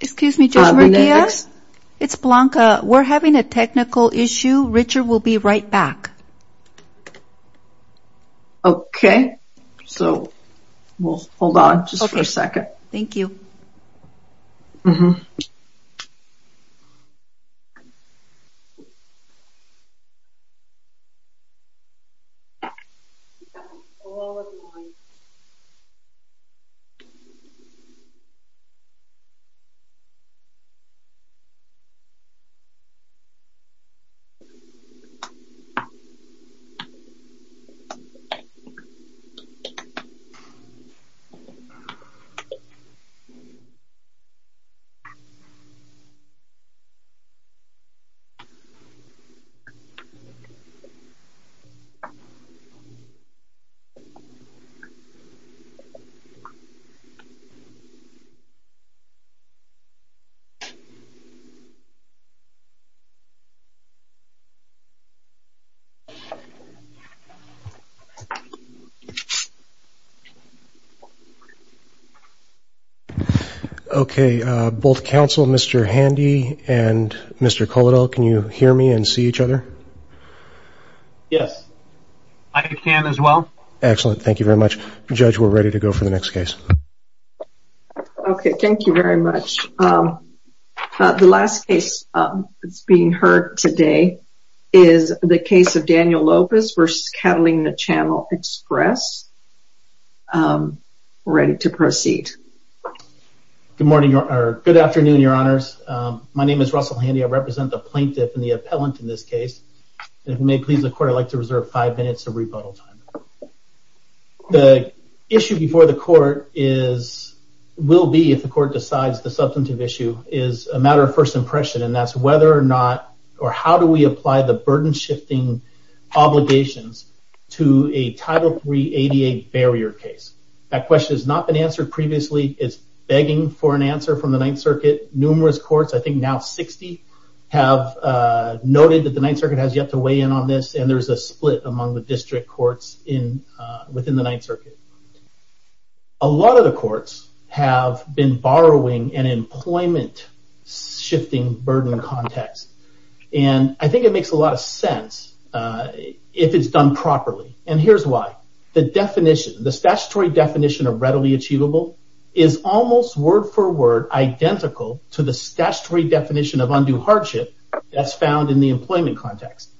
Excuse me, Judge Murguia. It's Blanca. We're having a technical issue. Richard will be right back. Okay, so we'll hold on just for a second. Thank you. Okay, so we'll hold on just for a second. Thank you. Okay, both counsel Mr. Handy and Mr. Coladel, can you hear me and see each other? Yes, I can as well. Excellent, thank you very much. Judge, we're ready to go for the next case. Okay, thank you very much. The last case that's being heard today is the case of Daniel Lopez v. Catalina Channel Express. We're ready to proceed. Good afternoon, your honors. My name is Russell Handy. I represent the plaintiff and the appellant in this case. If you may please the court, I'd like to reserve five minutes of rebuttal time. The issue before the court is, will be if the court decides the substantive issue, is a matter of first impression. And that's whether or not, or how do we apply the burden shifting obligations to a Title III ADA barrier case. That question has not been answered previously. It's begging for an answer from the Ninth Circuit. Numerous courts, I think now 60, have noted that the Ninth Circuit has yet to weigh in on this. And there's a split among the district courts within the Ninth Circuit. A lot of the courts have been borrowing an employment shifting burden context. And I think it makes a lot of sense if it's done properly. And here's why. The definition, the statutory definition of readily achievable, is almost word for word, identical to the statutory definition of undue hardship that's found in the employment context.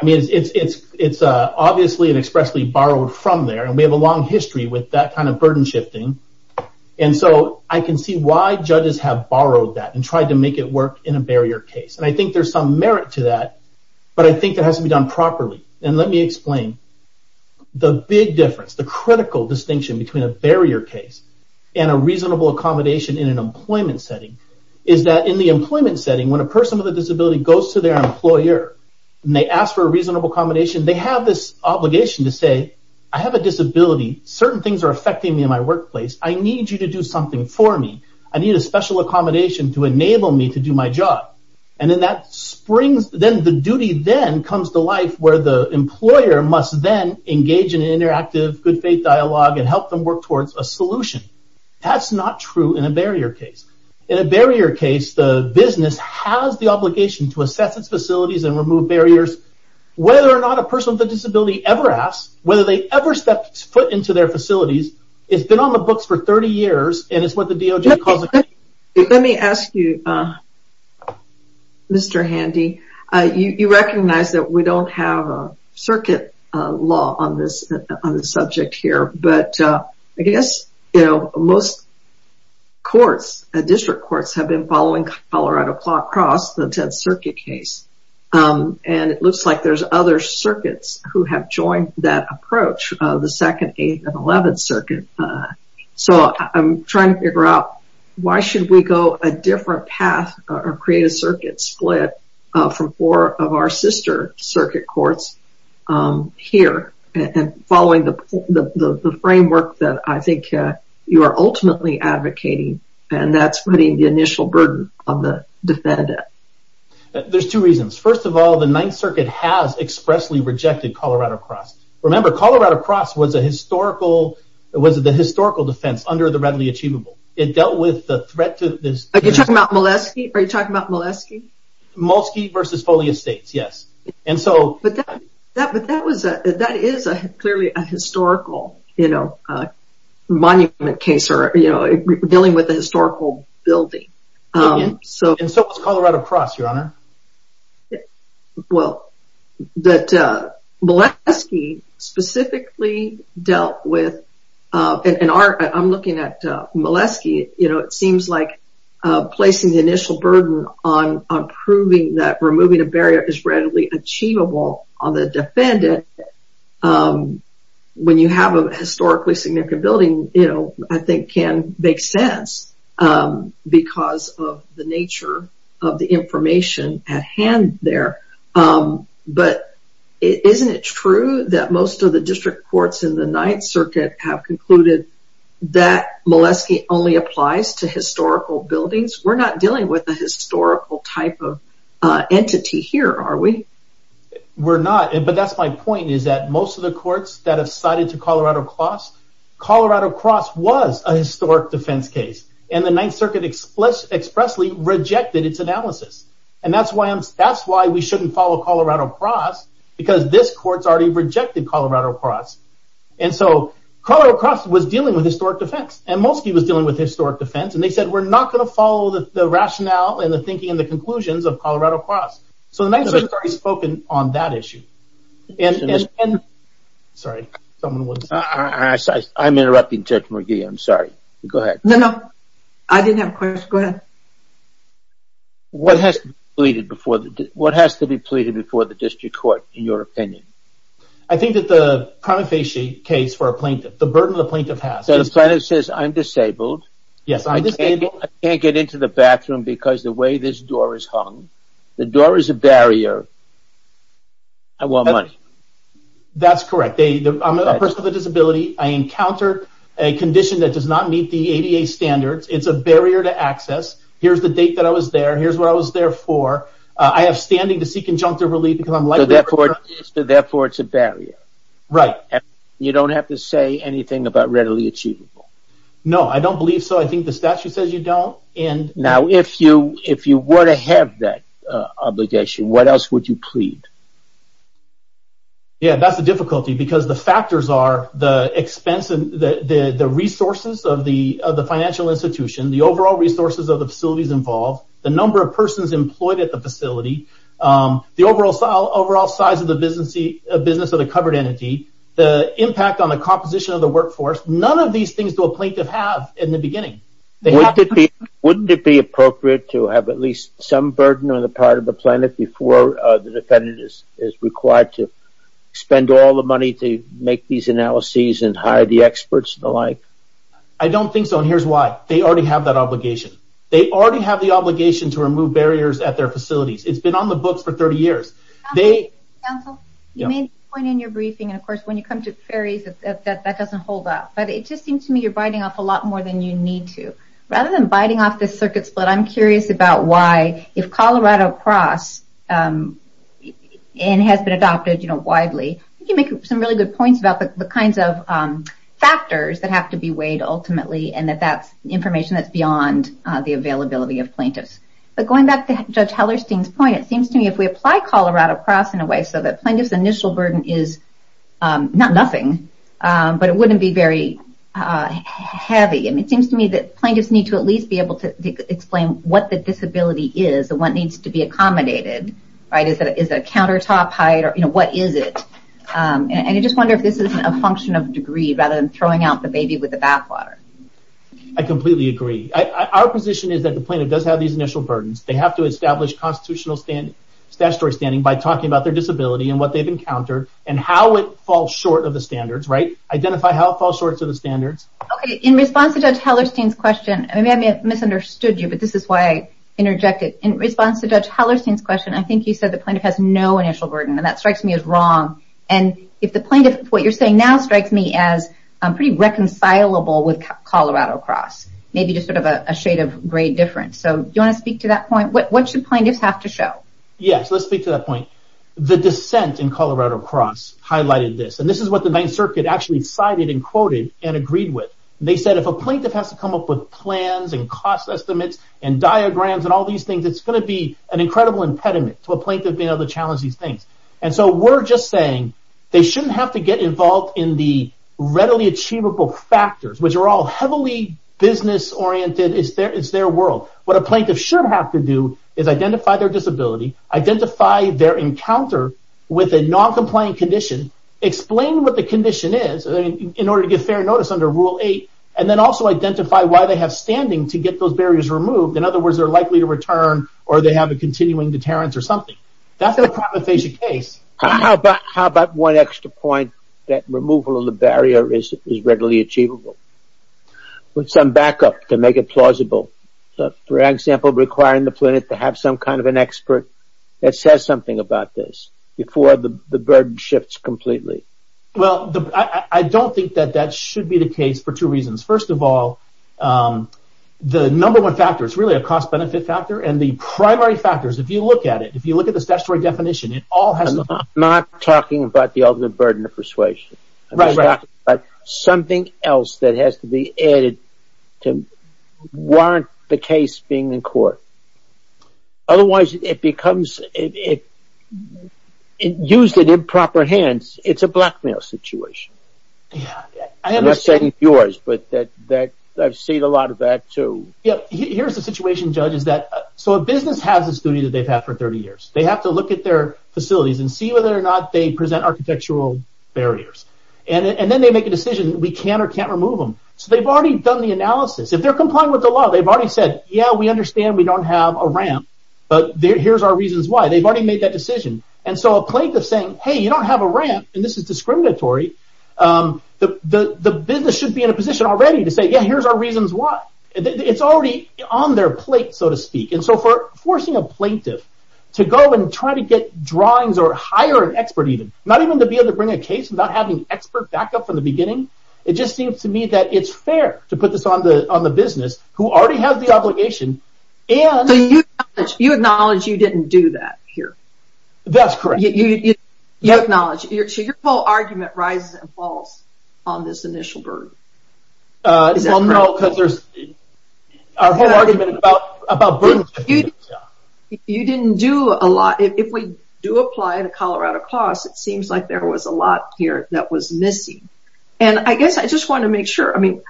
I mean, it's obviously and expressly borrowed from there, and we have a long history with that kind of burden shifting. And so I can see why judges have borrowed that and tried to make it work in a barrier case. And I think there's some merit to that, but I think it has to be done properly. And let me explain. The big difference, the critical distinction between a barrier case and a reasonable accommodation in an employment setting, is that in the employment setting, when a person with a disability goes to their employer and they ask for a reasonable accommodation, they have this obligation to say, I have a disability. Certain things are affecting me in my workplace. I need you to do something for me. I need a special accommodation to enable me to do my job. And then that springs, then the duty then comes to life where the employer must then engage in an interactive, good faith dialogue and help them work towards a solution. That's not true in a barrier case. In a barrier case, the business has the obligation to assess its facilities and remove barriers. Whether or not a person with a disability ever asks, whether they ever step foot into their facilities, it's been on the books for 30 years, and it's what the DOJ calls... Let me ask you, Mr. Handy, you recognize that we don't have a circuit law on this subject here, but I guess most courts, district courts, have been following Colorado Claw Cross, the 10th Circuit case. And it looks like there's other circuits who have joined that approach, the 2nd, 8th, and 11th Circuit. So I'm trying to figure out why should we go a different path or create a circuit split from four of our sister circuit courts here and following the framework that I think you are ultimately advocating, and that's putting the initial burden on the defendant. There's two reasons. First of all, the 9th Circuit has expressly rejected Colorado Cross. Remember, Colorado Cross was the historical defense under the readily achievable. It dealt with the threat to this... Are you talking about Molesky? Molesky v. Foley Estates, yes. But that is clearly a historical monument case, or dealing with a historical building. And so was Colorado Cross, Your Honor. Well, Molesky specifically dealt with... I'm looking at Molesky. It seems like placing the initial burden on proving that removing a barrier is readily achievable on the defendant when you have a historically significant building, I think can make sense because of the nature of the information at hand there. But isn't it true that most of the district courts in the 9th Circuit have concluded that Molesky only applies to historical buildings? We're not dealing with a historical type of entity here, are we? We're not, but that's my point, is that most of the courts that have cited to Colorado Cross, Colorado Cross was a historic defense case, and the 9th Circuit expressly rejected its analysis. And that's why we shouldn't follow Colorado Cross, because this court's already rejected Colorado Cross. And so Colorado Cross was dealing with historic defense, and Molesky was dealing with historic defense, and they said, we're not going to follow the rationale and the thinking and the conclusions of Colorado Cross. So the 9th Circuit has already spoken on that issue. Sorry, someone was... I'm interrupting Judge McGee, I'm sorry. Go ahead. No, no, I didn't have a question. Go ahead. What has to be pleaded before the district court, in your opinion? I think that the prima facie case for a plaintiff, the burden the plaintiff has... So the plaintiff says, I'm disabled. Yes, I'm disabled. I can't get into the bathroom because the way this door is hung. The door is a barrier. I want money. That's correct. I'm a person with a disability. I encounter a condition that does not meet the ADA standards. It's a barrier to access. Here's the date that I was there. Here's what I was there for. I have standing to seek conjunctive relief because I'm likely to... So therefore it's a barrier. Right. You don't have to say anything about readily achievable. No, I don't believe so. I think the statute says you don't. Now, if you were to have that obligation, what else would you plead? Yeah, that's a difficulty because the factors are the expense and the resources of the financial institution, the overall resources of the facilities involved, the number of persons employed at the facility, the overall size of the business of the covered entity, the impact on the composition of the workforce. None of these things do a plaintiff have in the beginning. Wouldn't it be appropriate to have at least some burden on the part of the plaintiff before the defendant is required to spend all the money to make these analyses and hire the experts and the like? I don't think so, and here's why. They already have that obligation. They already have the obligation to remove barriers at their facilities. It's been on the books for 30 years. Counsel, you may point in your briefing, and of course when you come to the ferries, that doesn't hold up. But it just seems to me you're biting off a lot more than you need to. Rather than biting off this circuit split, I'm curious about why, if Colorado Cross has been adopted widely, you can make some really good points about the kinds of factors that have to be weighed ultimately, and that that's information that's beyond the availability of plaintiffs. But going back to Judge Hellerstein's point, it seems to me if we apply Colorado Cross in a way so that plaintiff's initial burden is not nothing, but it wouldn't be very heavy. It seems to me that plaintiffs need to at least be able to explain what the disability is, and what needs to be accommodated. Is it a countertop height, or what is it? I just wonder if this is a function of degree rather than throwing out the baby with the bathwater. I completely agree. Our position is that the plaintiff does have these initial burdens. They have to establish constitutional statutory standing by talking about their disability and what they've encountered, and how it falls short of the standards. Identify how it falls short of the standards. In response to Judge Hellerstein's question, maybe I misunderstood you, but this is why I interjected. In response to Judge Hellerstein's question, I think you said the plaintiff has no initial burden, and that strikes me as wrong. If the plaintiff, what you're saying now, strikes me as pretty reconcilable with Colorado Cross, maybe just sort of a shade of gray difference. Do you want to speak to that point? What should plaintiffs have to show? Yes, let's speak to that point. The dissent in Colorado Cross highlighted this, and this is what the Ninth Circuit actually cited and quoted and agreed with. They said if a plaintiff has to come up with plans and cost estimates and diagrams and all these things, it's going to be an incredible impediment to a plaintiff being able to challenge these things. We're just saying they shouldn't have to get involved in the readily achievable factors, which are all heavily business-oriented. It's their world. What a plaintiff should have to do is identify their disability, identify their encounter with a noncompliant condition, explain what the condition is in order to get fair notice under Rule 8, and then also identify why they have standing to get those barriers removed. In other words, they're likely to return, or they have a continuing deterrence or something. That's in a crime aphasia case. How about one extra point that removal of the barrier is readily achievable, with some backup to make it plausible? For example, requiring the plaintiff to have some kind of an expert that says something about this before the burden shifts completely. Well, I don't think that that should be the case for two reasons. First of all, the number one factor is really a cost-benefit factor, and the primary factors, if you look at it, if you look at the statutory definition, I'm not talking about the ultimate burden of persuasion. I'm talking about something else that has to be added to warrant the case being in court. Otherwise, it becomes, if used in improper hands, it's a blackmail situation. I'm not saying it's yours, but I've seen a lot of that, too. Here's the situation, Judge. A business has this duty that they've had for 30 years. They have to look at their facilities and see whether or not they present architectural barriers. Then they make a decision that we can or can't remove them. They've already done the analysis. If they're complying with the law, they've already said, yeah, we understand we don't have a ramp, but here's our reasons why. They've already made that decision. So a plaintiff saying, hey, you don't have a ramp, and this is discriminatory, the business should be in a position already to say, yeah, here's our reasons why. It's already on their plate, so to speak. So for forcing a plaintiff to go and try to get drawings or hire an expert even, not even to be able to bring a case without having an expert back up from the beginning, it just seems to me that it's fair to put this on the business who already has the obligation. So you acknowledge you didn't do that here? That's correct. You acknowledge. So your whole argument rises and falls on this initial burden. Well, no, because our whole argument is about burden. You didn't do a lot. If we do apply the Colorado clause, it seems like there was a lot here that was missing. And I guess I just want to make sure. I mean,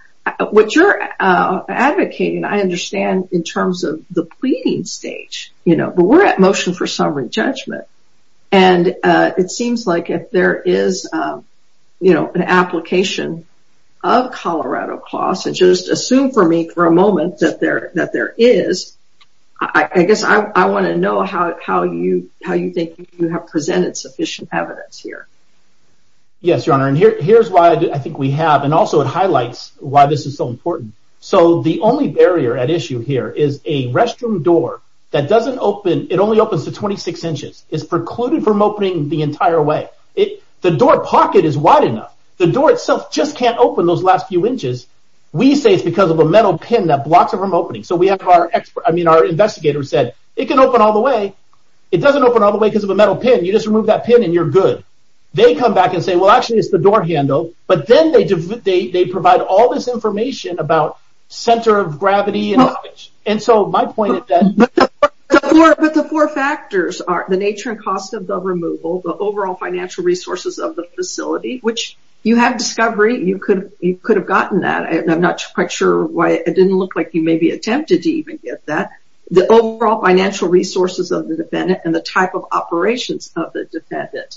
what you're advocating I understand in terms of the pleading stage, you know, but we're at motion for summary judgment, and it seems like if there is, you know, an application of Colorado clause, and just assume for me for a moment that there is, I guess I want to know how you think you have presented sufficient evidence here. Yes, Your Honor, and here's why I think we have, and also it highlights why this is so important. So the only barrier at issue here is a restroom door that doesn't open. It only opens to 26 inches. It's precluded from opening the entire way. The door pocket is wide enough. The door itself just can't open those last few inches. We say it's because of a metal pin that blocks it from opening. So we have our expert, I mean, our investigator said it can open all the way. It doesn't open all the way because of a metal pin. You just remove that pin, and you're good. They come back and say, well, actually, it's the door handle, but then they provide all this information about center of gravity. But the four factors are the nature and cost of the removal, the overall financial resources of the facility, which you have discovery. You could have gotten that. I'm not quite sure why it didn't look like you maybe attempted to even get that. The overall financial resources of the defendant and the type of operations of the defendant.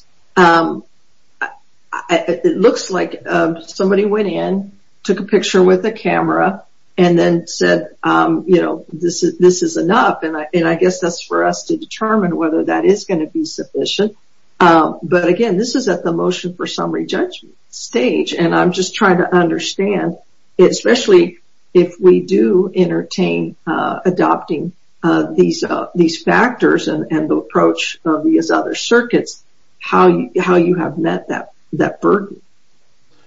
And then said, you know, this is enough, and I guess that's for us to determine whether that is going to be sufficient. But, again, this is at the motion for summary judgment stage, and I'm just trying to understand, especially if we do entertain adopting these factors and the approach of these other circuits, how you have met that burden.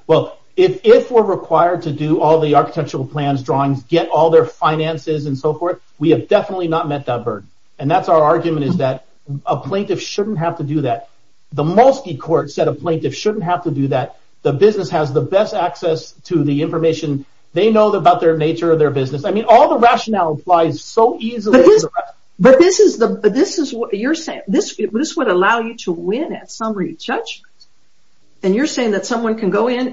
Well, if we're required to do all the architectural plans, drawings, get all their finances, and so forth, we have definitely not met that burden. And that's our argument is that a plaintiff shouldn't have to do that. The Molsky Court said a plaintiff shouldn't have to do that. The business has the best access to the information. They know about the nature of their business. I mean, all the rationale applies so easily. But this is what you're saying. This would allow you to win at summary judgment. And you're saying that someone can go in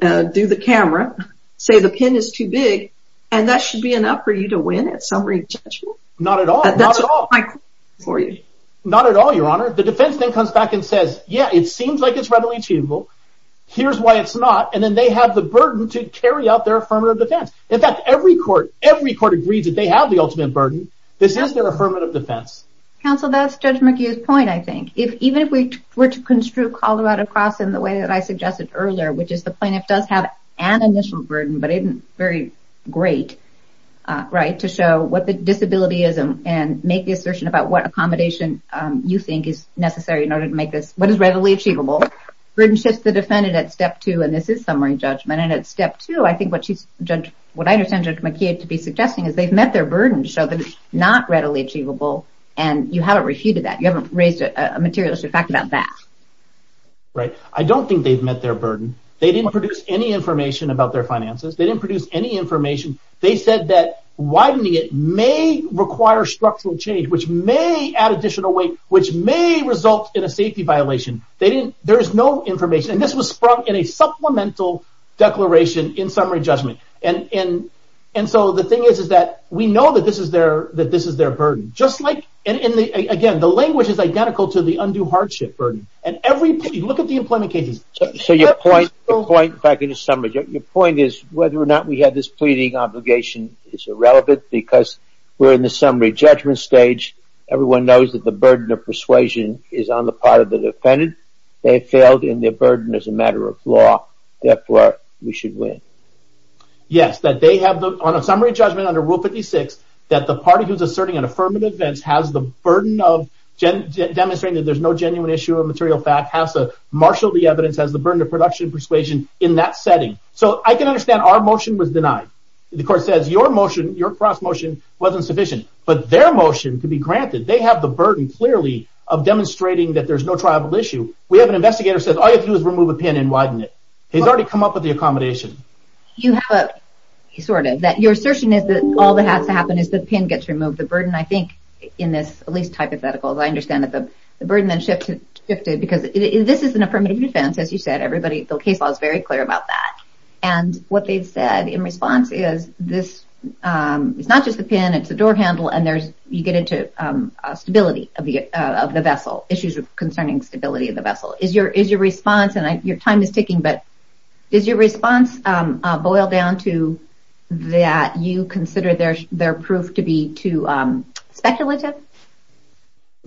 and do the camera, say the pin is too big, and that should be enough for you to win at summary judgment? Not at all. That's my question for you. Not at all, Your Honor. The defense then comes back and says, yeah, it seems like it's readily achievable. Here's why it's not. And then they have the burden to carry out their affirmative defense. In fact, every court agrees that they have the ultimate burden. This is their affirmative defense. Counsel, that's Judge McHugh's point, I think. Even if we were to construe Colorado Cross in the way that I suggested earlier, which is the plaintiff does have an initial burden, but isn't very great to show what the disability is and make the assertion about what accommodation you think is necessary in order to make this what is readily achievable. Burden shifts the defendant at step two, and this is summary judgment. And at step two, I think what I understand Judge McHugh to be suggesting is they've met their burden to show that it's not readily achievable, and you haven't refuted that. You haven't raised a materialistic fact about that. Right. I don't think they've met their burden. They didn't produce any information about their finances. They didn't produce any information. They said that widening it may require structural change, which may add additional weight, which may result in a safety violation. There is no information. And this was sprung in a supplemental declaration in summary judgment. And so the thing is that we know that this is their burden. Again, the language is identical to the undue hardship burden. Look at the employment cases. So your point is whether or not we have this pleading obligation is irrelevant because we're in the summary judgment stage. Everyone knows that the burden of persuasion is on the part of the defendant. They failed in their burden as a matter of law. Therefore, we should win. Yes, that they have on a summary judgment under Rule 56 that the party who's asserting an affirmative defense has the burden of demonstrating that there's no genuine issue or material fact, has to marshal the evidence, has the burden of production and persuasion in that setting. So I can understand our motion was denied. The court says your motion, your cross-motion, wasn't sufficient. But their motion could be granted. They have the burden, clearly, of demonstrating that there's no tribal issue. We have an investigator who says all you have to do is remove a pin and widen it. He's already come up with the accommodation. Sort of. Your assertion is that all that has to happen is the pin gets removed. The burden, I think, in this, at least hypothetically, I understand that the burden then shifted because this is an affirmative defense, as you said. Everybody, the case law is very clear about that. And what they've said in response is this is not just a pin, it's a door handle, and you get into stability of the vessel, issues concerning stability of the vessel. Is your response, and your time is ticking, but does your response boil down to that you consider their proof to be too speculative?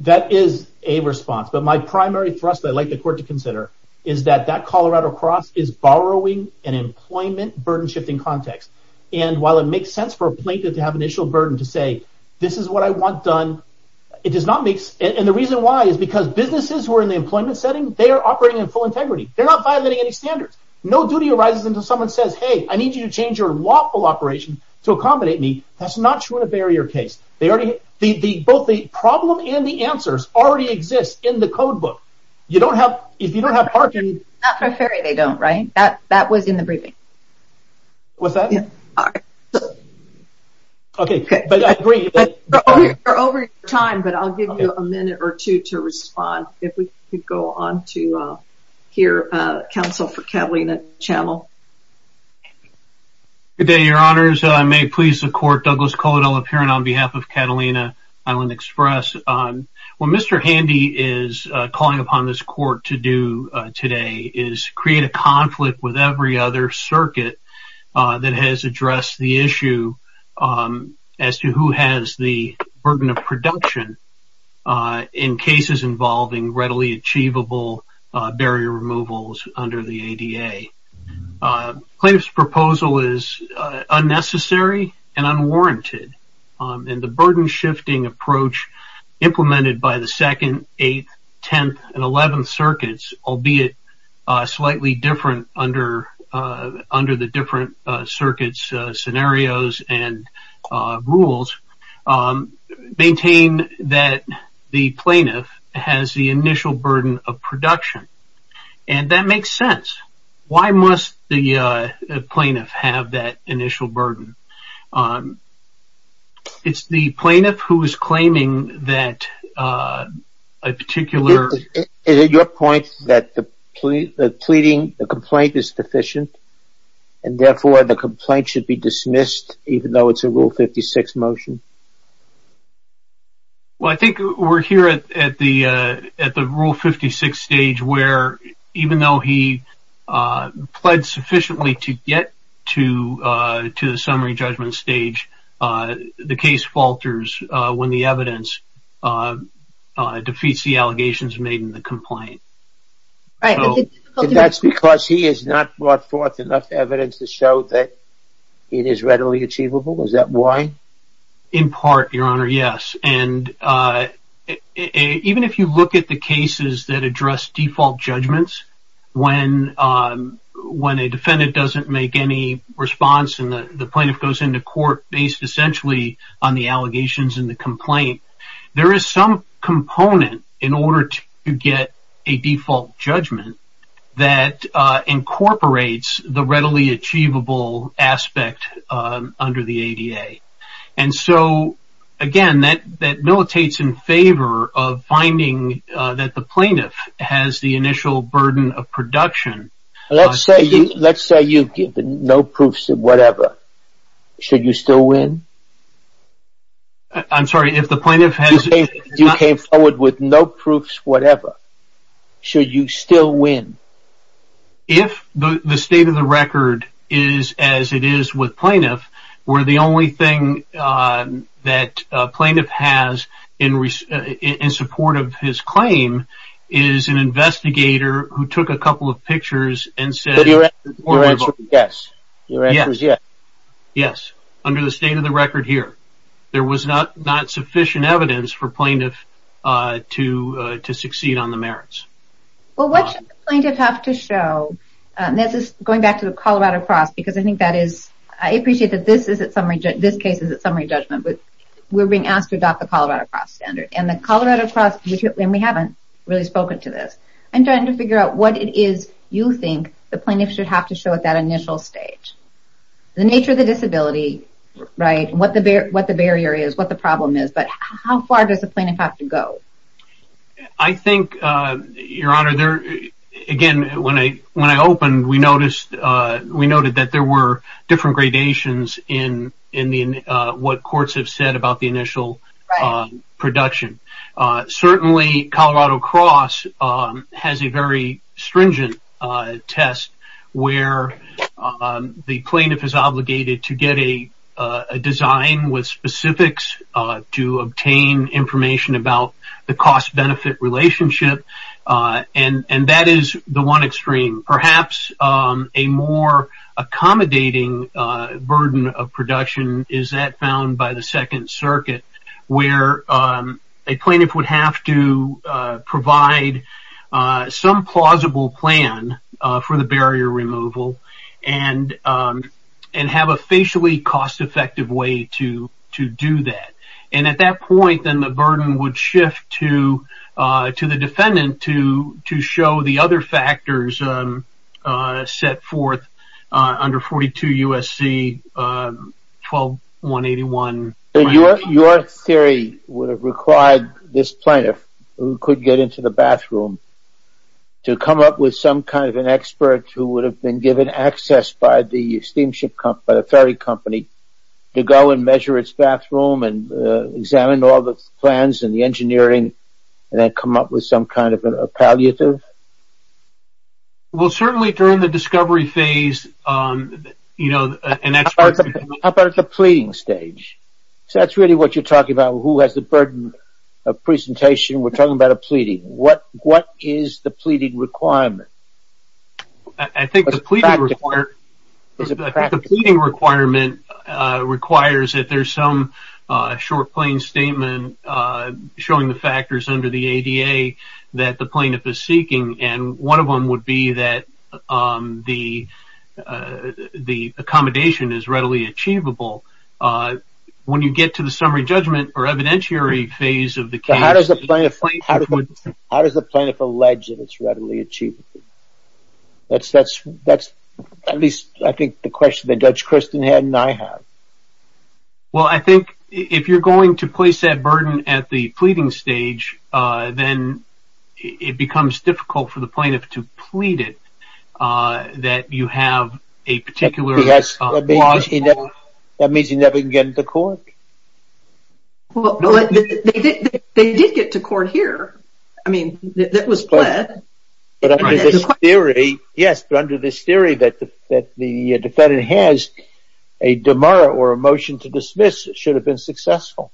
That is a response. But my primary thrust that I'd like the court to consider is that that Colorado cross is borrowing an employment burden-shifting context. And while it makes sense for a plaintiff to have initial burden to say, this is what I want done, it does not make sense. And the reason why is because businesses who are in the employment setting, they are operating in full integrity. They're not violating any standards. No duty arises until someone says, hey, I need you to change your lawful operation to accommodate me. That's not true in a barrier case. Both the problem and the answers already exist in the codebook. If you don't have parking – Not for a ferry they don't, right? That was in the briefing. What's that? Okay, but I agree. We're over time, but I'll give you a minute or two to respond. If we could go on to hear counsel for Catalina Channel. Good day, Your Honors. May it please the court, Douglas Coladello, appearing on behalf of Catalina Island Express. What Mr. Handy is calling upon this court to do today is create a conflict with every other circuit that has addressed the issue as to who has the burden of production in cases involving readily achievable barrier removals under the ADA. Claims proposal is unnecessary and unwarranted. And the burden-shifting approach implemented by the second, eighth, tenth, and eleventh circuits, albeit slightly different under the different circuits scenarios and rules, maintain that the plaintiff has the initial burden of production. And that makes sense. Why must the plaintiff have that initial burden? It's the plaintiff who is claiming that a particular. Is it your point that the pleading, the complaint is sufficient, and therefore the complaint should be dismissed even though it's a Rule 56 motion? Well, I think we're here at the Rule 56 stage where, even though he pled sufficiently to get to the summary judgment stage, the case falters when the evidence defeats the allegations made in the complaint. And that's because he has not brought forth enough evidence to show that it is readily achievable? Is that why? In part, Your Honor, yes. And even if you look at the cases that address default judgments, when a defendant doesn't make any response and the plaintiff goes into court based essentially on the allegations in the complaint, there is some component in order to get a default judgment that incorporates the readily achievable aspect under the ADA. And so, again, that militates in favor of finding that the plaintiff has the initial burden of production. Let's say you've given no proofs of whatever. Should you still win? I'm sorry, if the plaintiff has... You came forward with no proofs whatever. Should you still win? If the state of the record is as it is with plaintiff, where the only thing that plaintiff has in support of his claim is an investigator who took a couple of pictures and said... Your answer is yes. Your answer is yes. Yes, under the state of the record here. There was not sufficient evidence for plaintiff to succeed on the merits. Well, what should the plaintiff have to show? This is going back to the Colorado Cross because I think that is... I appreciate that this case is at summary judgment, but we're being asked to adopt the Colorado Cross standard. And the Colorado Cross... And we haven't really spoken to this. I'm trying to figure out what it is you think the plaintiff should have to show at that initial stage. The nature of the disability, right? What the barrier is, what the problem is, but how far does the plaintiff have to go? I think, Your Honor, again, when I opened, we noted that there were different gradations in what courts have said about the initial production. Certainly, Colorado Cross has a very stringent test where the plaintiff is obligated to get a design with specifics to obtain information about the cost-benefit relationship. And that is the one extreme. Perhaps a more accommodating burden of production is that found by the Second Circuit where a plaintiff would have to provide some plausible plan for the barrier removal and have a facially cost-effective way to do that. And at that point, then the burden would shift to the defendant to show the other factors set forth under 42 U.S.C. 12181. Your theory would have required this plaintiff who could get into the bathroom to come up with some kind of an expert who would have been given access by the steamship company, by the ferry company, to go and measure its bathroom and examine all the plans and the engineering and then come up with some kind of a palliative? Well, certainly during the discovery phase, you know, an expert... How about at the pleading stage? So that's really what you're talking about, who has the burden of presentation. We're talking about a pleading. What is the pleading requirement? I think the pleading requirement requires that there's some short plain statement showing the factors under the ADA that the plaintiff is seeking. And one of them would be that the accommodation is readily achievable. When you get to the summary judgment or evidentiary phase of the case... How does the plaintiff allege that it's readily achievable? That's at least I think the question that Judge Christen had and I have. Well, I think if you're going to place that burden at the pleading stage, then it becomes difficult for the plaintiff to plead it, that you have a particular... That means he never can get into court? Well, they did get to court here. I mean, that was pled. But under this theory, yes, but under this theory that the defendant has a demur or a motion to dismiss, it should have been successful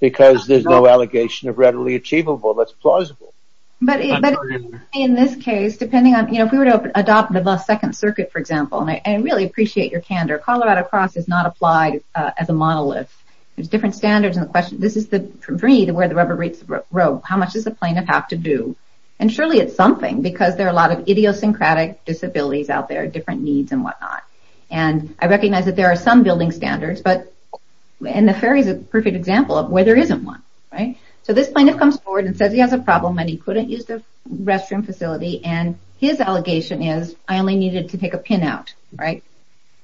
because there's no allegation of readily achievable that's plausible. But in this case, depending on, you know, if we were to adopt the second circuit, for example, and I really appreciate your candor, Colorado Cross is not applied as a monolith. There's different standards in the question. This is for me where the rubber meets the road. How much does the plaintiff have to do? And surely it's something because there are a lot of idiosyncratic disabilities out there, different needs and whatnot. And I recognize that there are some building standards, and the ferry is a perfect example of where there isn't one, right? So this plaintiff comes forward and says he has a problem and he couldn't use the restroom facility, and his allegation is I only needed to take a pin out, right?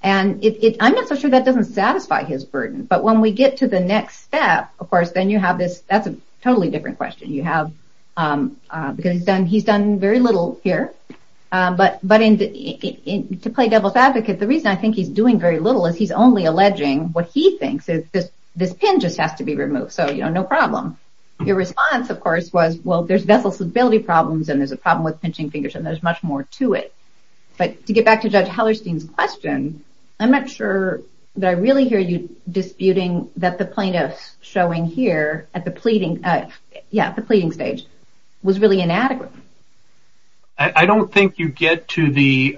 And it I'm not so sure that doesn't satisfy his burden. But when we get to the next step, of course, then you have this. That's a totally different question you have because he's done. He's done very little here. But but in to play devil's advocate, the reason I think he's doing very little is he's only alleging what he thinks is this. This pin just has to be removed. So, you know, no problem. Your response, of course, was, well, there's vessel stability problems and there's a problem with pinching fingers and there's much more to it. But to get back to Judge Hellerstein's question, I'm not sure that I really hear you disputing that the plaintiff showing here at the pleading. Yeah, the pleading stage was really inadequate. I don't think you get to the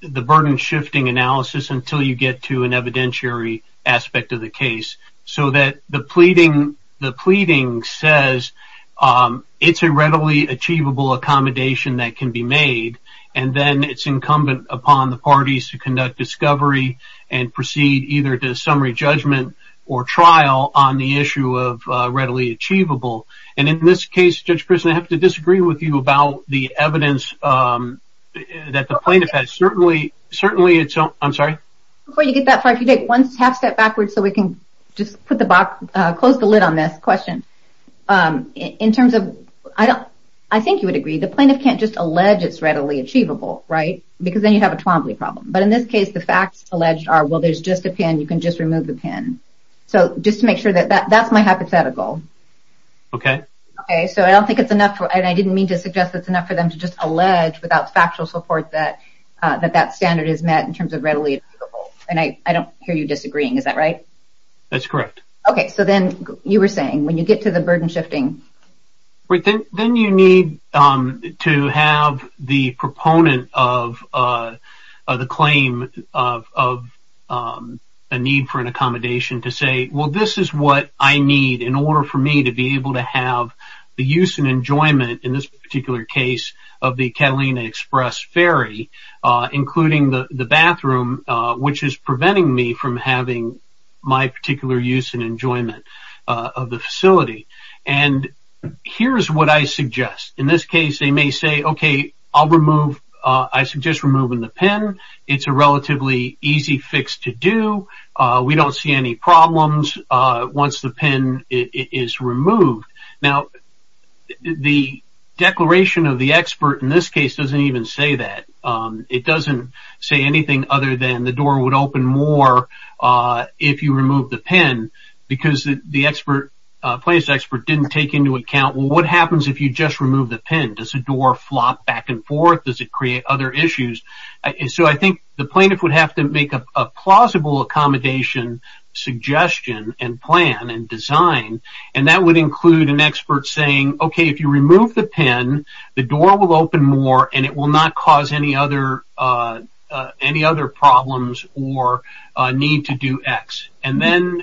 the burden shifting analysis until you get to an evidentiary aspect of the case. So that the pleading, the pleading says it's a readily achievable accommodation that can be made. And then it's incumbent upon the parties to conduct discovery and proceed either to a summary judgment or trial on the issue of readily achievable. And in this case, Judge Pearson, I have to disagree with you about the evidence that the plaintiff has. Certainly, certainly it's I'm sorry. Before you get that far, if you take one half step backwards so we can just put the close the lid on this question in terms of I don't I think you would agree. The plaintiff can't just allege it's readily achievable. Right. Because then you have a problem. But in this case, the facts alleged are, well, there's just a pin. You can just remove the pin. So just to make sure that that's my hypothetical. OK. So I don't think it's enough. And I didn't mean to suggest it's enough for them to just allege without factual support that that standard is met in terms of readily. And I don't hear you disagreeing. Is that right? That's correct. OK, so then you were saying when you get to the burden shifting. Then you need to have the proponent of the claim of a need for an accommodation to say, well, this is what I need in order for me to be able to have the use and enjoyment in this particular case of the Catalina Express ferry, including the bathroom, which is preventing me from having my particular use and enjoyment of the facility. And here's what I suggest. In this case, they may say, OK, I'll remove. I suggest removing the pin. It's a relatively easy fix to do. We don't see any problems once the pin is removed. Now, the declaration of the expert in this case doesn't even say that. It doesn't say anything other than the door would open more if you remove the pin because the expert, plaintiff's expert, didn't take into account. What happens if you just remove the pin? Does the door flop back and forth? Does it create other issues? So I think the plaintiff would have to make a plausible accommodation suggestion and plan and design. And that would include an expert saying, OK, if you remove the pin, the door will open more and it will not cause any other problems or need to do X. And then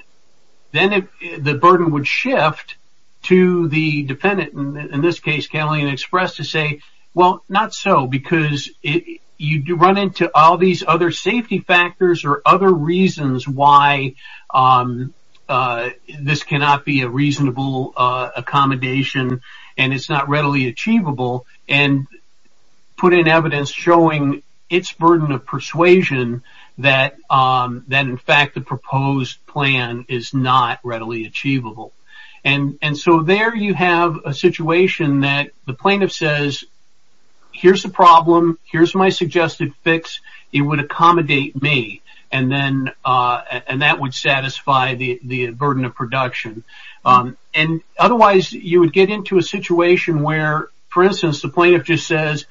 the burden would shift to the defendant, in this case Catalina Express, to say, well, not so, because you run into all these other safety factors or other reasons why this cannot be a reasonable accommodation and it's not readily achievable. And put in evidence showing its burden of persuasion that, in fact, the proposed plan is not readily achievable. And so there you have a situation that the plaintiff says, here's the problem, here's my suggested fix, it would accommodate me. And that would satisfy the burden of production. And otherwise, you would get into a situation where, for instance, the plaintiff just says,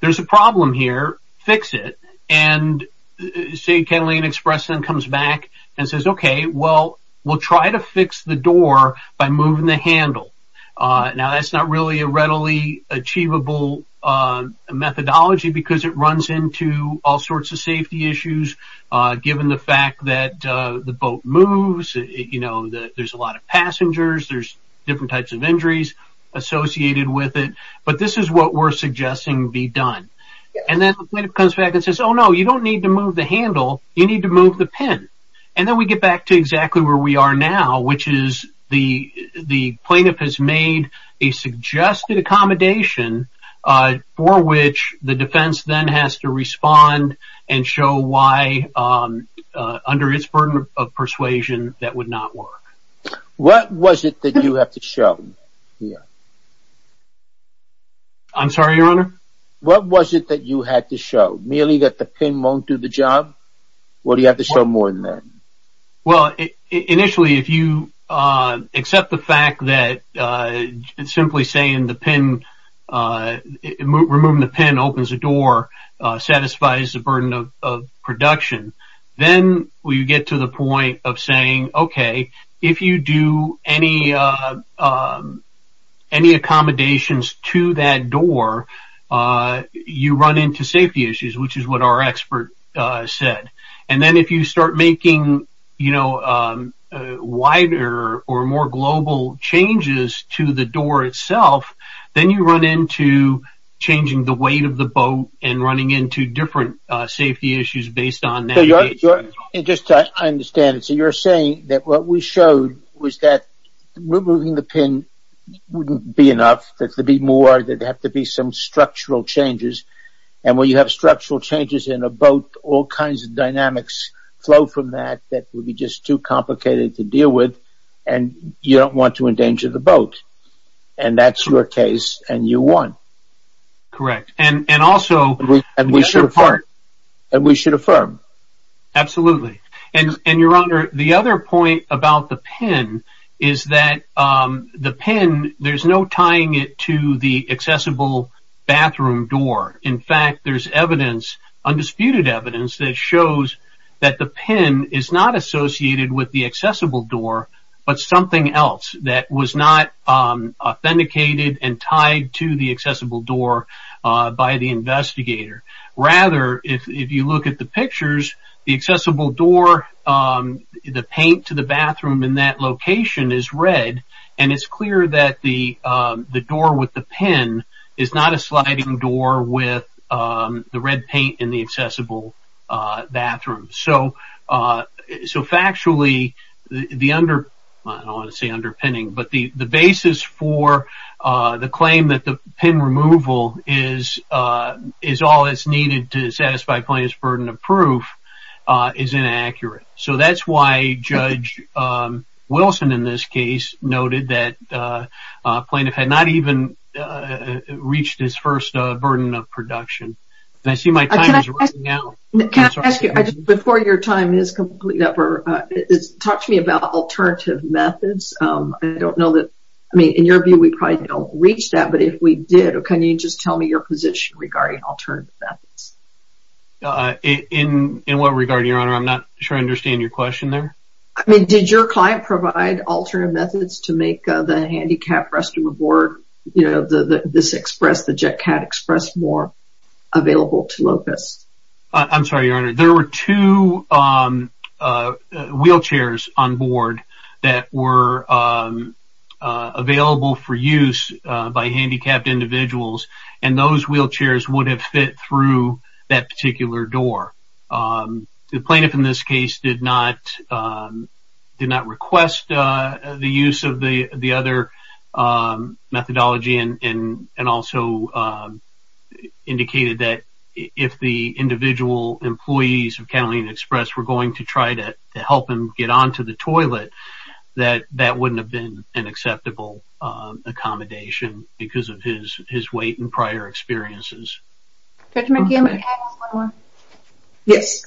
there's a problem here, fix it. And say Catalina Express then comes back and says, OK, well, we'll try to fix the door by moving the handle. Now, that's not really a readily achievable methodology because it runs into all sorts of safety issues. Given the fact that the boat moves, you know, there's a lot of passengers, there's different types of injuries associated with it. But this is what we're suggesting be done. And then the plaintiff comes back and says, oh, no, you don't need to move the handle, you need to move the pin. And then we get back to exactly where we are now, which is the plaintiff has made a suggested accommodation for which the defense then has to respond and show why, under its burden of persuasion, that would not work. What was it that you have to show? I'm sorry, Your Honor? What was it that you had to show? Merely that the pin won't do the job? Or do you have to show more than that? Well, initially, if you accept the fact that simply saying the pin, removing the pin opens the door, satisfies the burden of production. Then we get to the point of saying, okay, if you do any accommodations to that door, you run into safety issues, which is what our expert said. And then if you start making wider or more global changes to the door itself, then you run into changing the weight of the boat and running into different safety issues based on that. Just so I understand, so you're saying that what we showed was that removing the pin wouldn't be enough, that there'd be more, there'd have to be some structural changes. And when you have structural changes in a boat, all kinds of dynamics flow from that that would be just too complicated to deal with, and you don't want to endanger the boat. And that's your case, and you won. Correct. And we should affirm. Absolutely. And Your Honor, the other point about the pin is that the pin, there's no tying it to the accessible bathroom door. In fact, there's evidence, undisputed evidence, that shows that the pin is not associated with the accessible door, but something else that was not authenticated and tied to the accessible door by the investigator. Rather, if you look at the pictures, the accessible door, the paint to the bathroom in that location is red, and it's clear that the door with the pin is not a sliding door with the red paint in the accessible bathroom. So factually, the basis for the claim that the pin removal is all that's needed to satisfy plaintiff's burden of proof is inaccurate. So that's why Judge Wilson in this case noted that plaintiff had not even reached his first burden of production. Can I ask you, before your time is up, talk to me about alternative methods. In your view, we probably don't reach that, but if we did, can you just tell me your position regarding alternative methods? In what regard, Your Honor? I'm not sure I understand your question there. I mean, did your client provide alternative methods to make the handicapped restroom aboard, you know, the JetCat Express more available to locusts? I'm sorry, Your Honor. There were two wheelchairs on board that were available for use by handicapped individuals, and those wheelchairs would have fit through that particular door. The plaintiff in this case did not request the use of the other methodology and also indicated that if the individual employees of Catalina Express were going to try to help him get onto the toilet, that that wouldn't have been an acceptable accommodation because of his weight and prior experiences. Judge McGill, can I ask one more? Yes.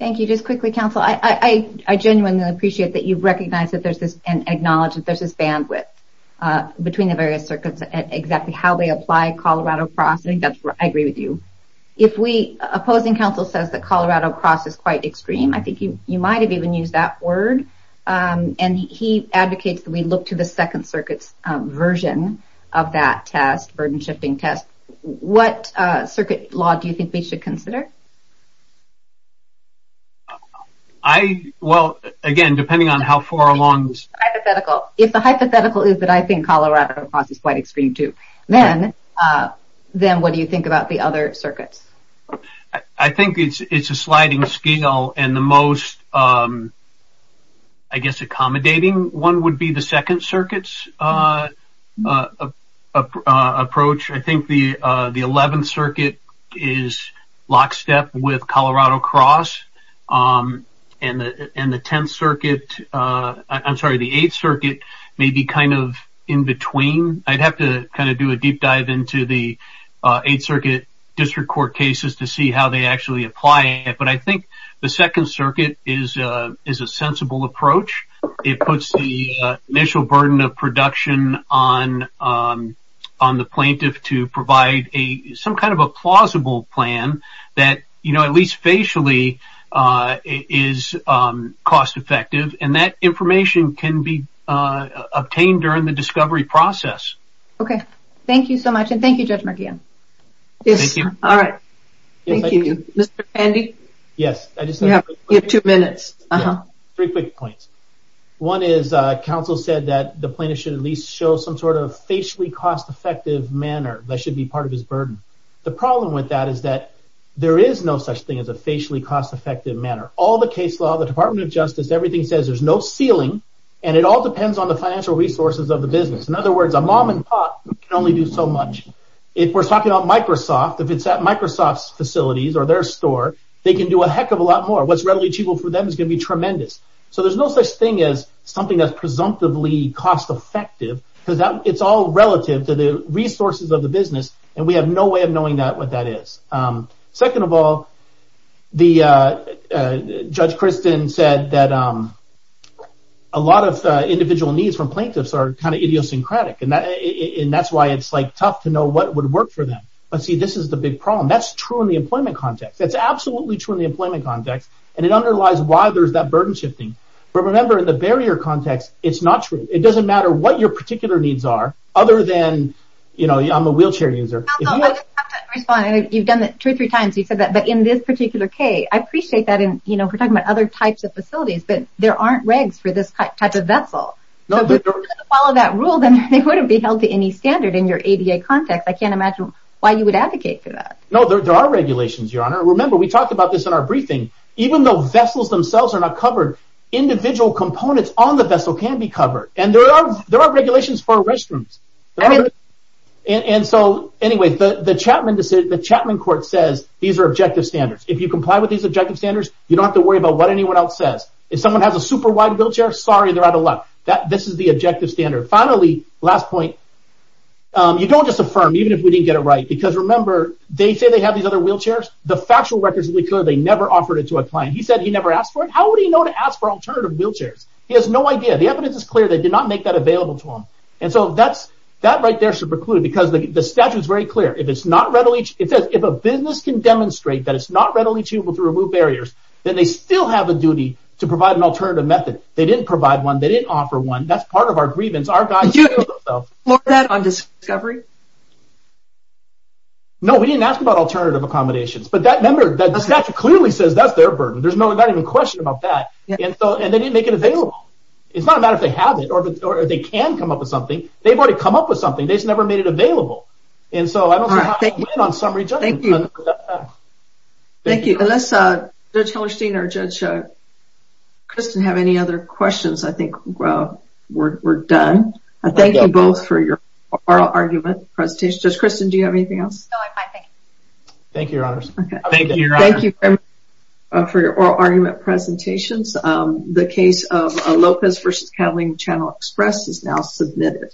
Thank you. Just quickly, counsel, I genuinely appreciate that you recognize and acknowledge that there's this bandwidth between the various circuits and exactly how they apply Colorado Cross. I think that's where I agree with you. If we, opposing counsel says that Colorado Cross is quite extreme, I think you might have even used that word, and he advocates that we look to the Second Circuit's version of that test, burden-shifting test. What circuit law do you think we should consider? I, well, again, depending on how far along... Hypothetical. If the hypothetical is that I think Colorado Cross is quite extreme, too, then what do you think about the other circuits? I think it's a sliding scale, and the most, I guess, accommodating one would be the Second Circuit's approach. I think the Eleventh Circuit is lockstep with Colorado Cross, and the Eighth Circuit may be kind of in between. I'd have to kind of do a deep dive into the Eighth Circuit district court cases to see how they actually apply it, but I think the Second Circuit is a sensible approach. It puts the initial burden of production on the plaintiff to provide some kind of a plausible plan that, at least facially, is cost-effective, and that information can be obtained during the discovery process. Okay. Thank you so much, and thank you, Judge Marquand. Yes. All right. Thank you. Mr. Pandey? Yes, I just have a quick question. You have two minutes. Three quick points. One is, counsel said that the plaintiff should at least show some sort of facially cost-effective manner that should be part of his burden. The problem with that is that there is no such thing as a facially cost-effective manner. All the case law, the Department of Justice, everything says there's no ceiling, and it all depends on the financial resources of the business. In other words, a mom-and-pop can only do so much. If we're talking about Microsoft, if it's at Microsoft's facilities or their store, they can do a heck of a lot more. What's readily achievable for them is going to be tremendous. So there's no such thing as something that's presumptively cost-effective because it's all relative to the resources of the business, and we have no way of knowing what that is. Second of all, Judge Kristen said that a lot of individual needs from plaintiffs are kind of idiosyncratic, and that's why it's tough to know what would work for them. But see, this is the big problem. That's true in the employment context. That's absolutely true in the employment context, and it underlies why there's that burden shifting. But remember, in the barrier context, it's not true. It doesn't matter what your particular needs are other than, you know, I'm a wheelchair user. Counsel, I just have to respond. You've done that two or three times. You've said that, but in this particular case, I appreciate that. You know, we're talking about other types of facilities, but there aren't regs for this type of vessel. If you're going to follow that rule, then they wouldn't be held to any standard in your ADA context. I can't imagine why you would advocate for that. No, there are regulations, Your Honor. Remember, we talked about this in our briefing. Even though vessels themselves are not covered, individual components on the vessel can be covered, and there are regulations for restrooms. And so anyway, the Chapman court says these are objective standards. If you comply with these objective standards, you don't have to worry about what anyone else says. If someone has a super wide wheelchair, sorry, they're out of luck. This is the objective standard. Finally, last point, you don't just affirm, even if we didn't get it right. Because remember, they say they have these other wheelchairs. The factual records will be clear. They never offered it to a client. He said he never asked for it. How would he know to ask for alternative wheelchairs? He has no idea. The evidence is clear. They did not make that available to him. And so that right there should preclude, because the statute is very clear. It says if a business can demonstrate that it's not readily achievable to remove barriers, then they still have a duty to provide an alternative method. They didn't provide one. They didn't offer one. That's part of our grievance. Did you explore that on discovery? No, we didn't ask about alternative accommodations. But that statute clearly says that's their burden. There's not even a question about that. And they didn't make it available. It's not a matter if they have it or they can come up with something. They've already come up with something. They just never made it available. And so I don't see how we can win on summary judgment. Thank you. Unless Judge Hellerstein or Judge Christen have any other questions, I think we're done. Thank you both for your oral argument presentations. Judge Christen, do you have anything else? No, I'm fine. Thank you. Thank you, Your Honors. Thank you very much for your oral argument presentations. The case of Lopez v. Catalina Channel Express is now submitted.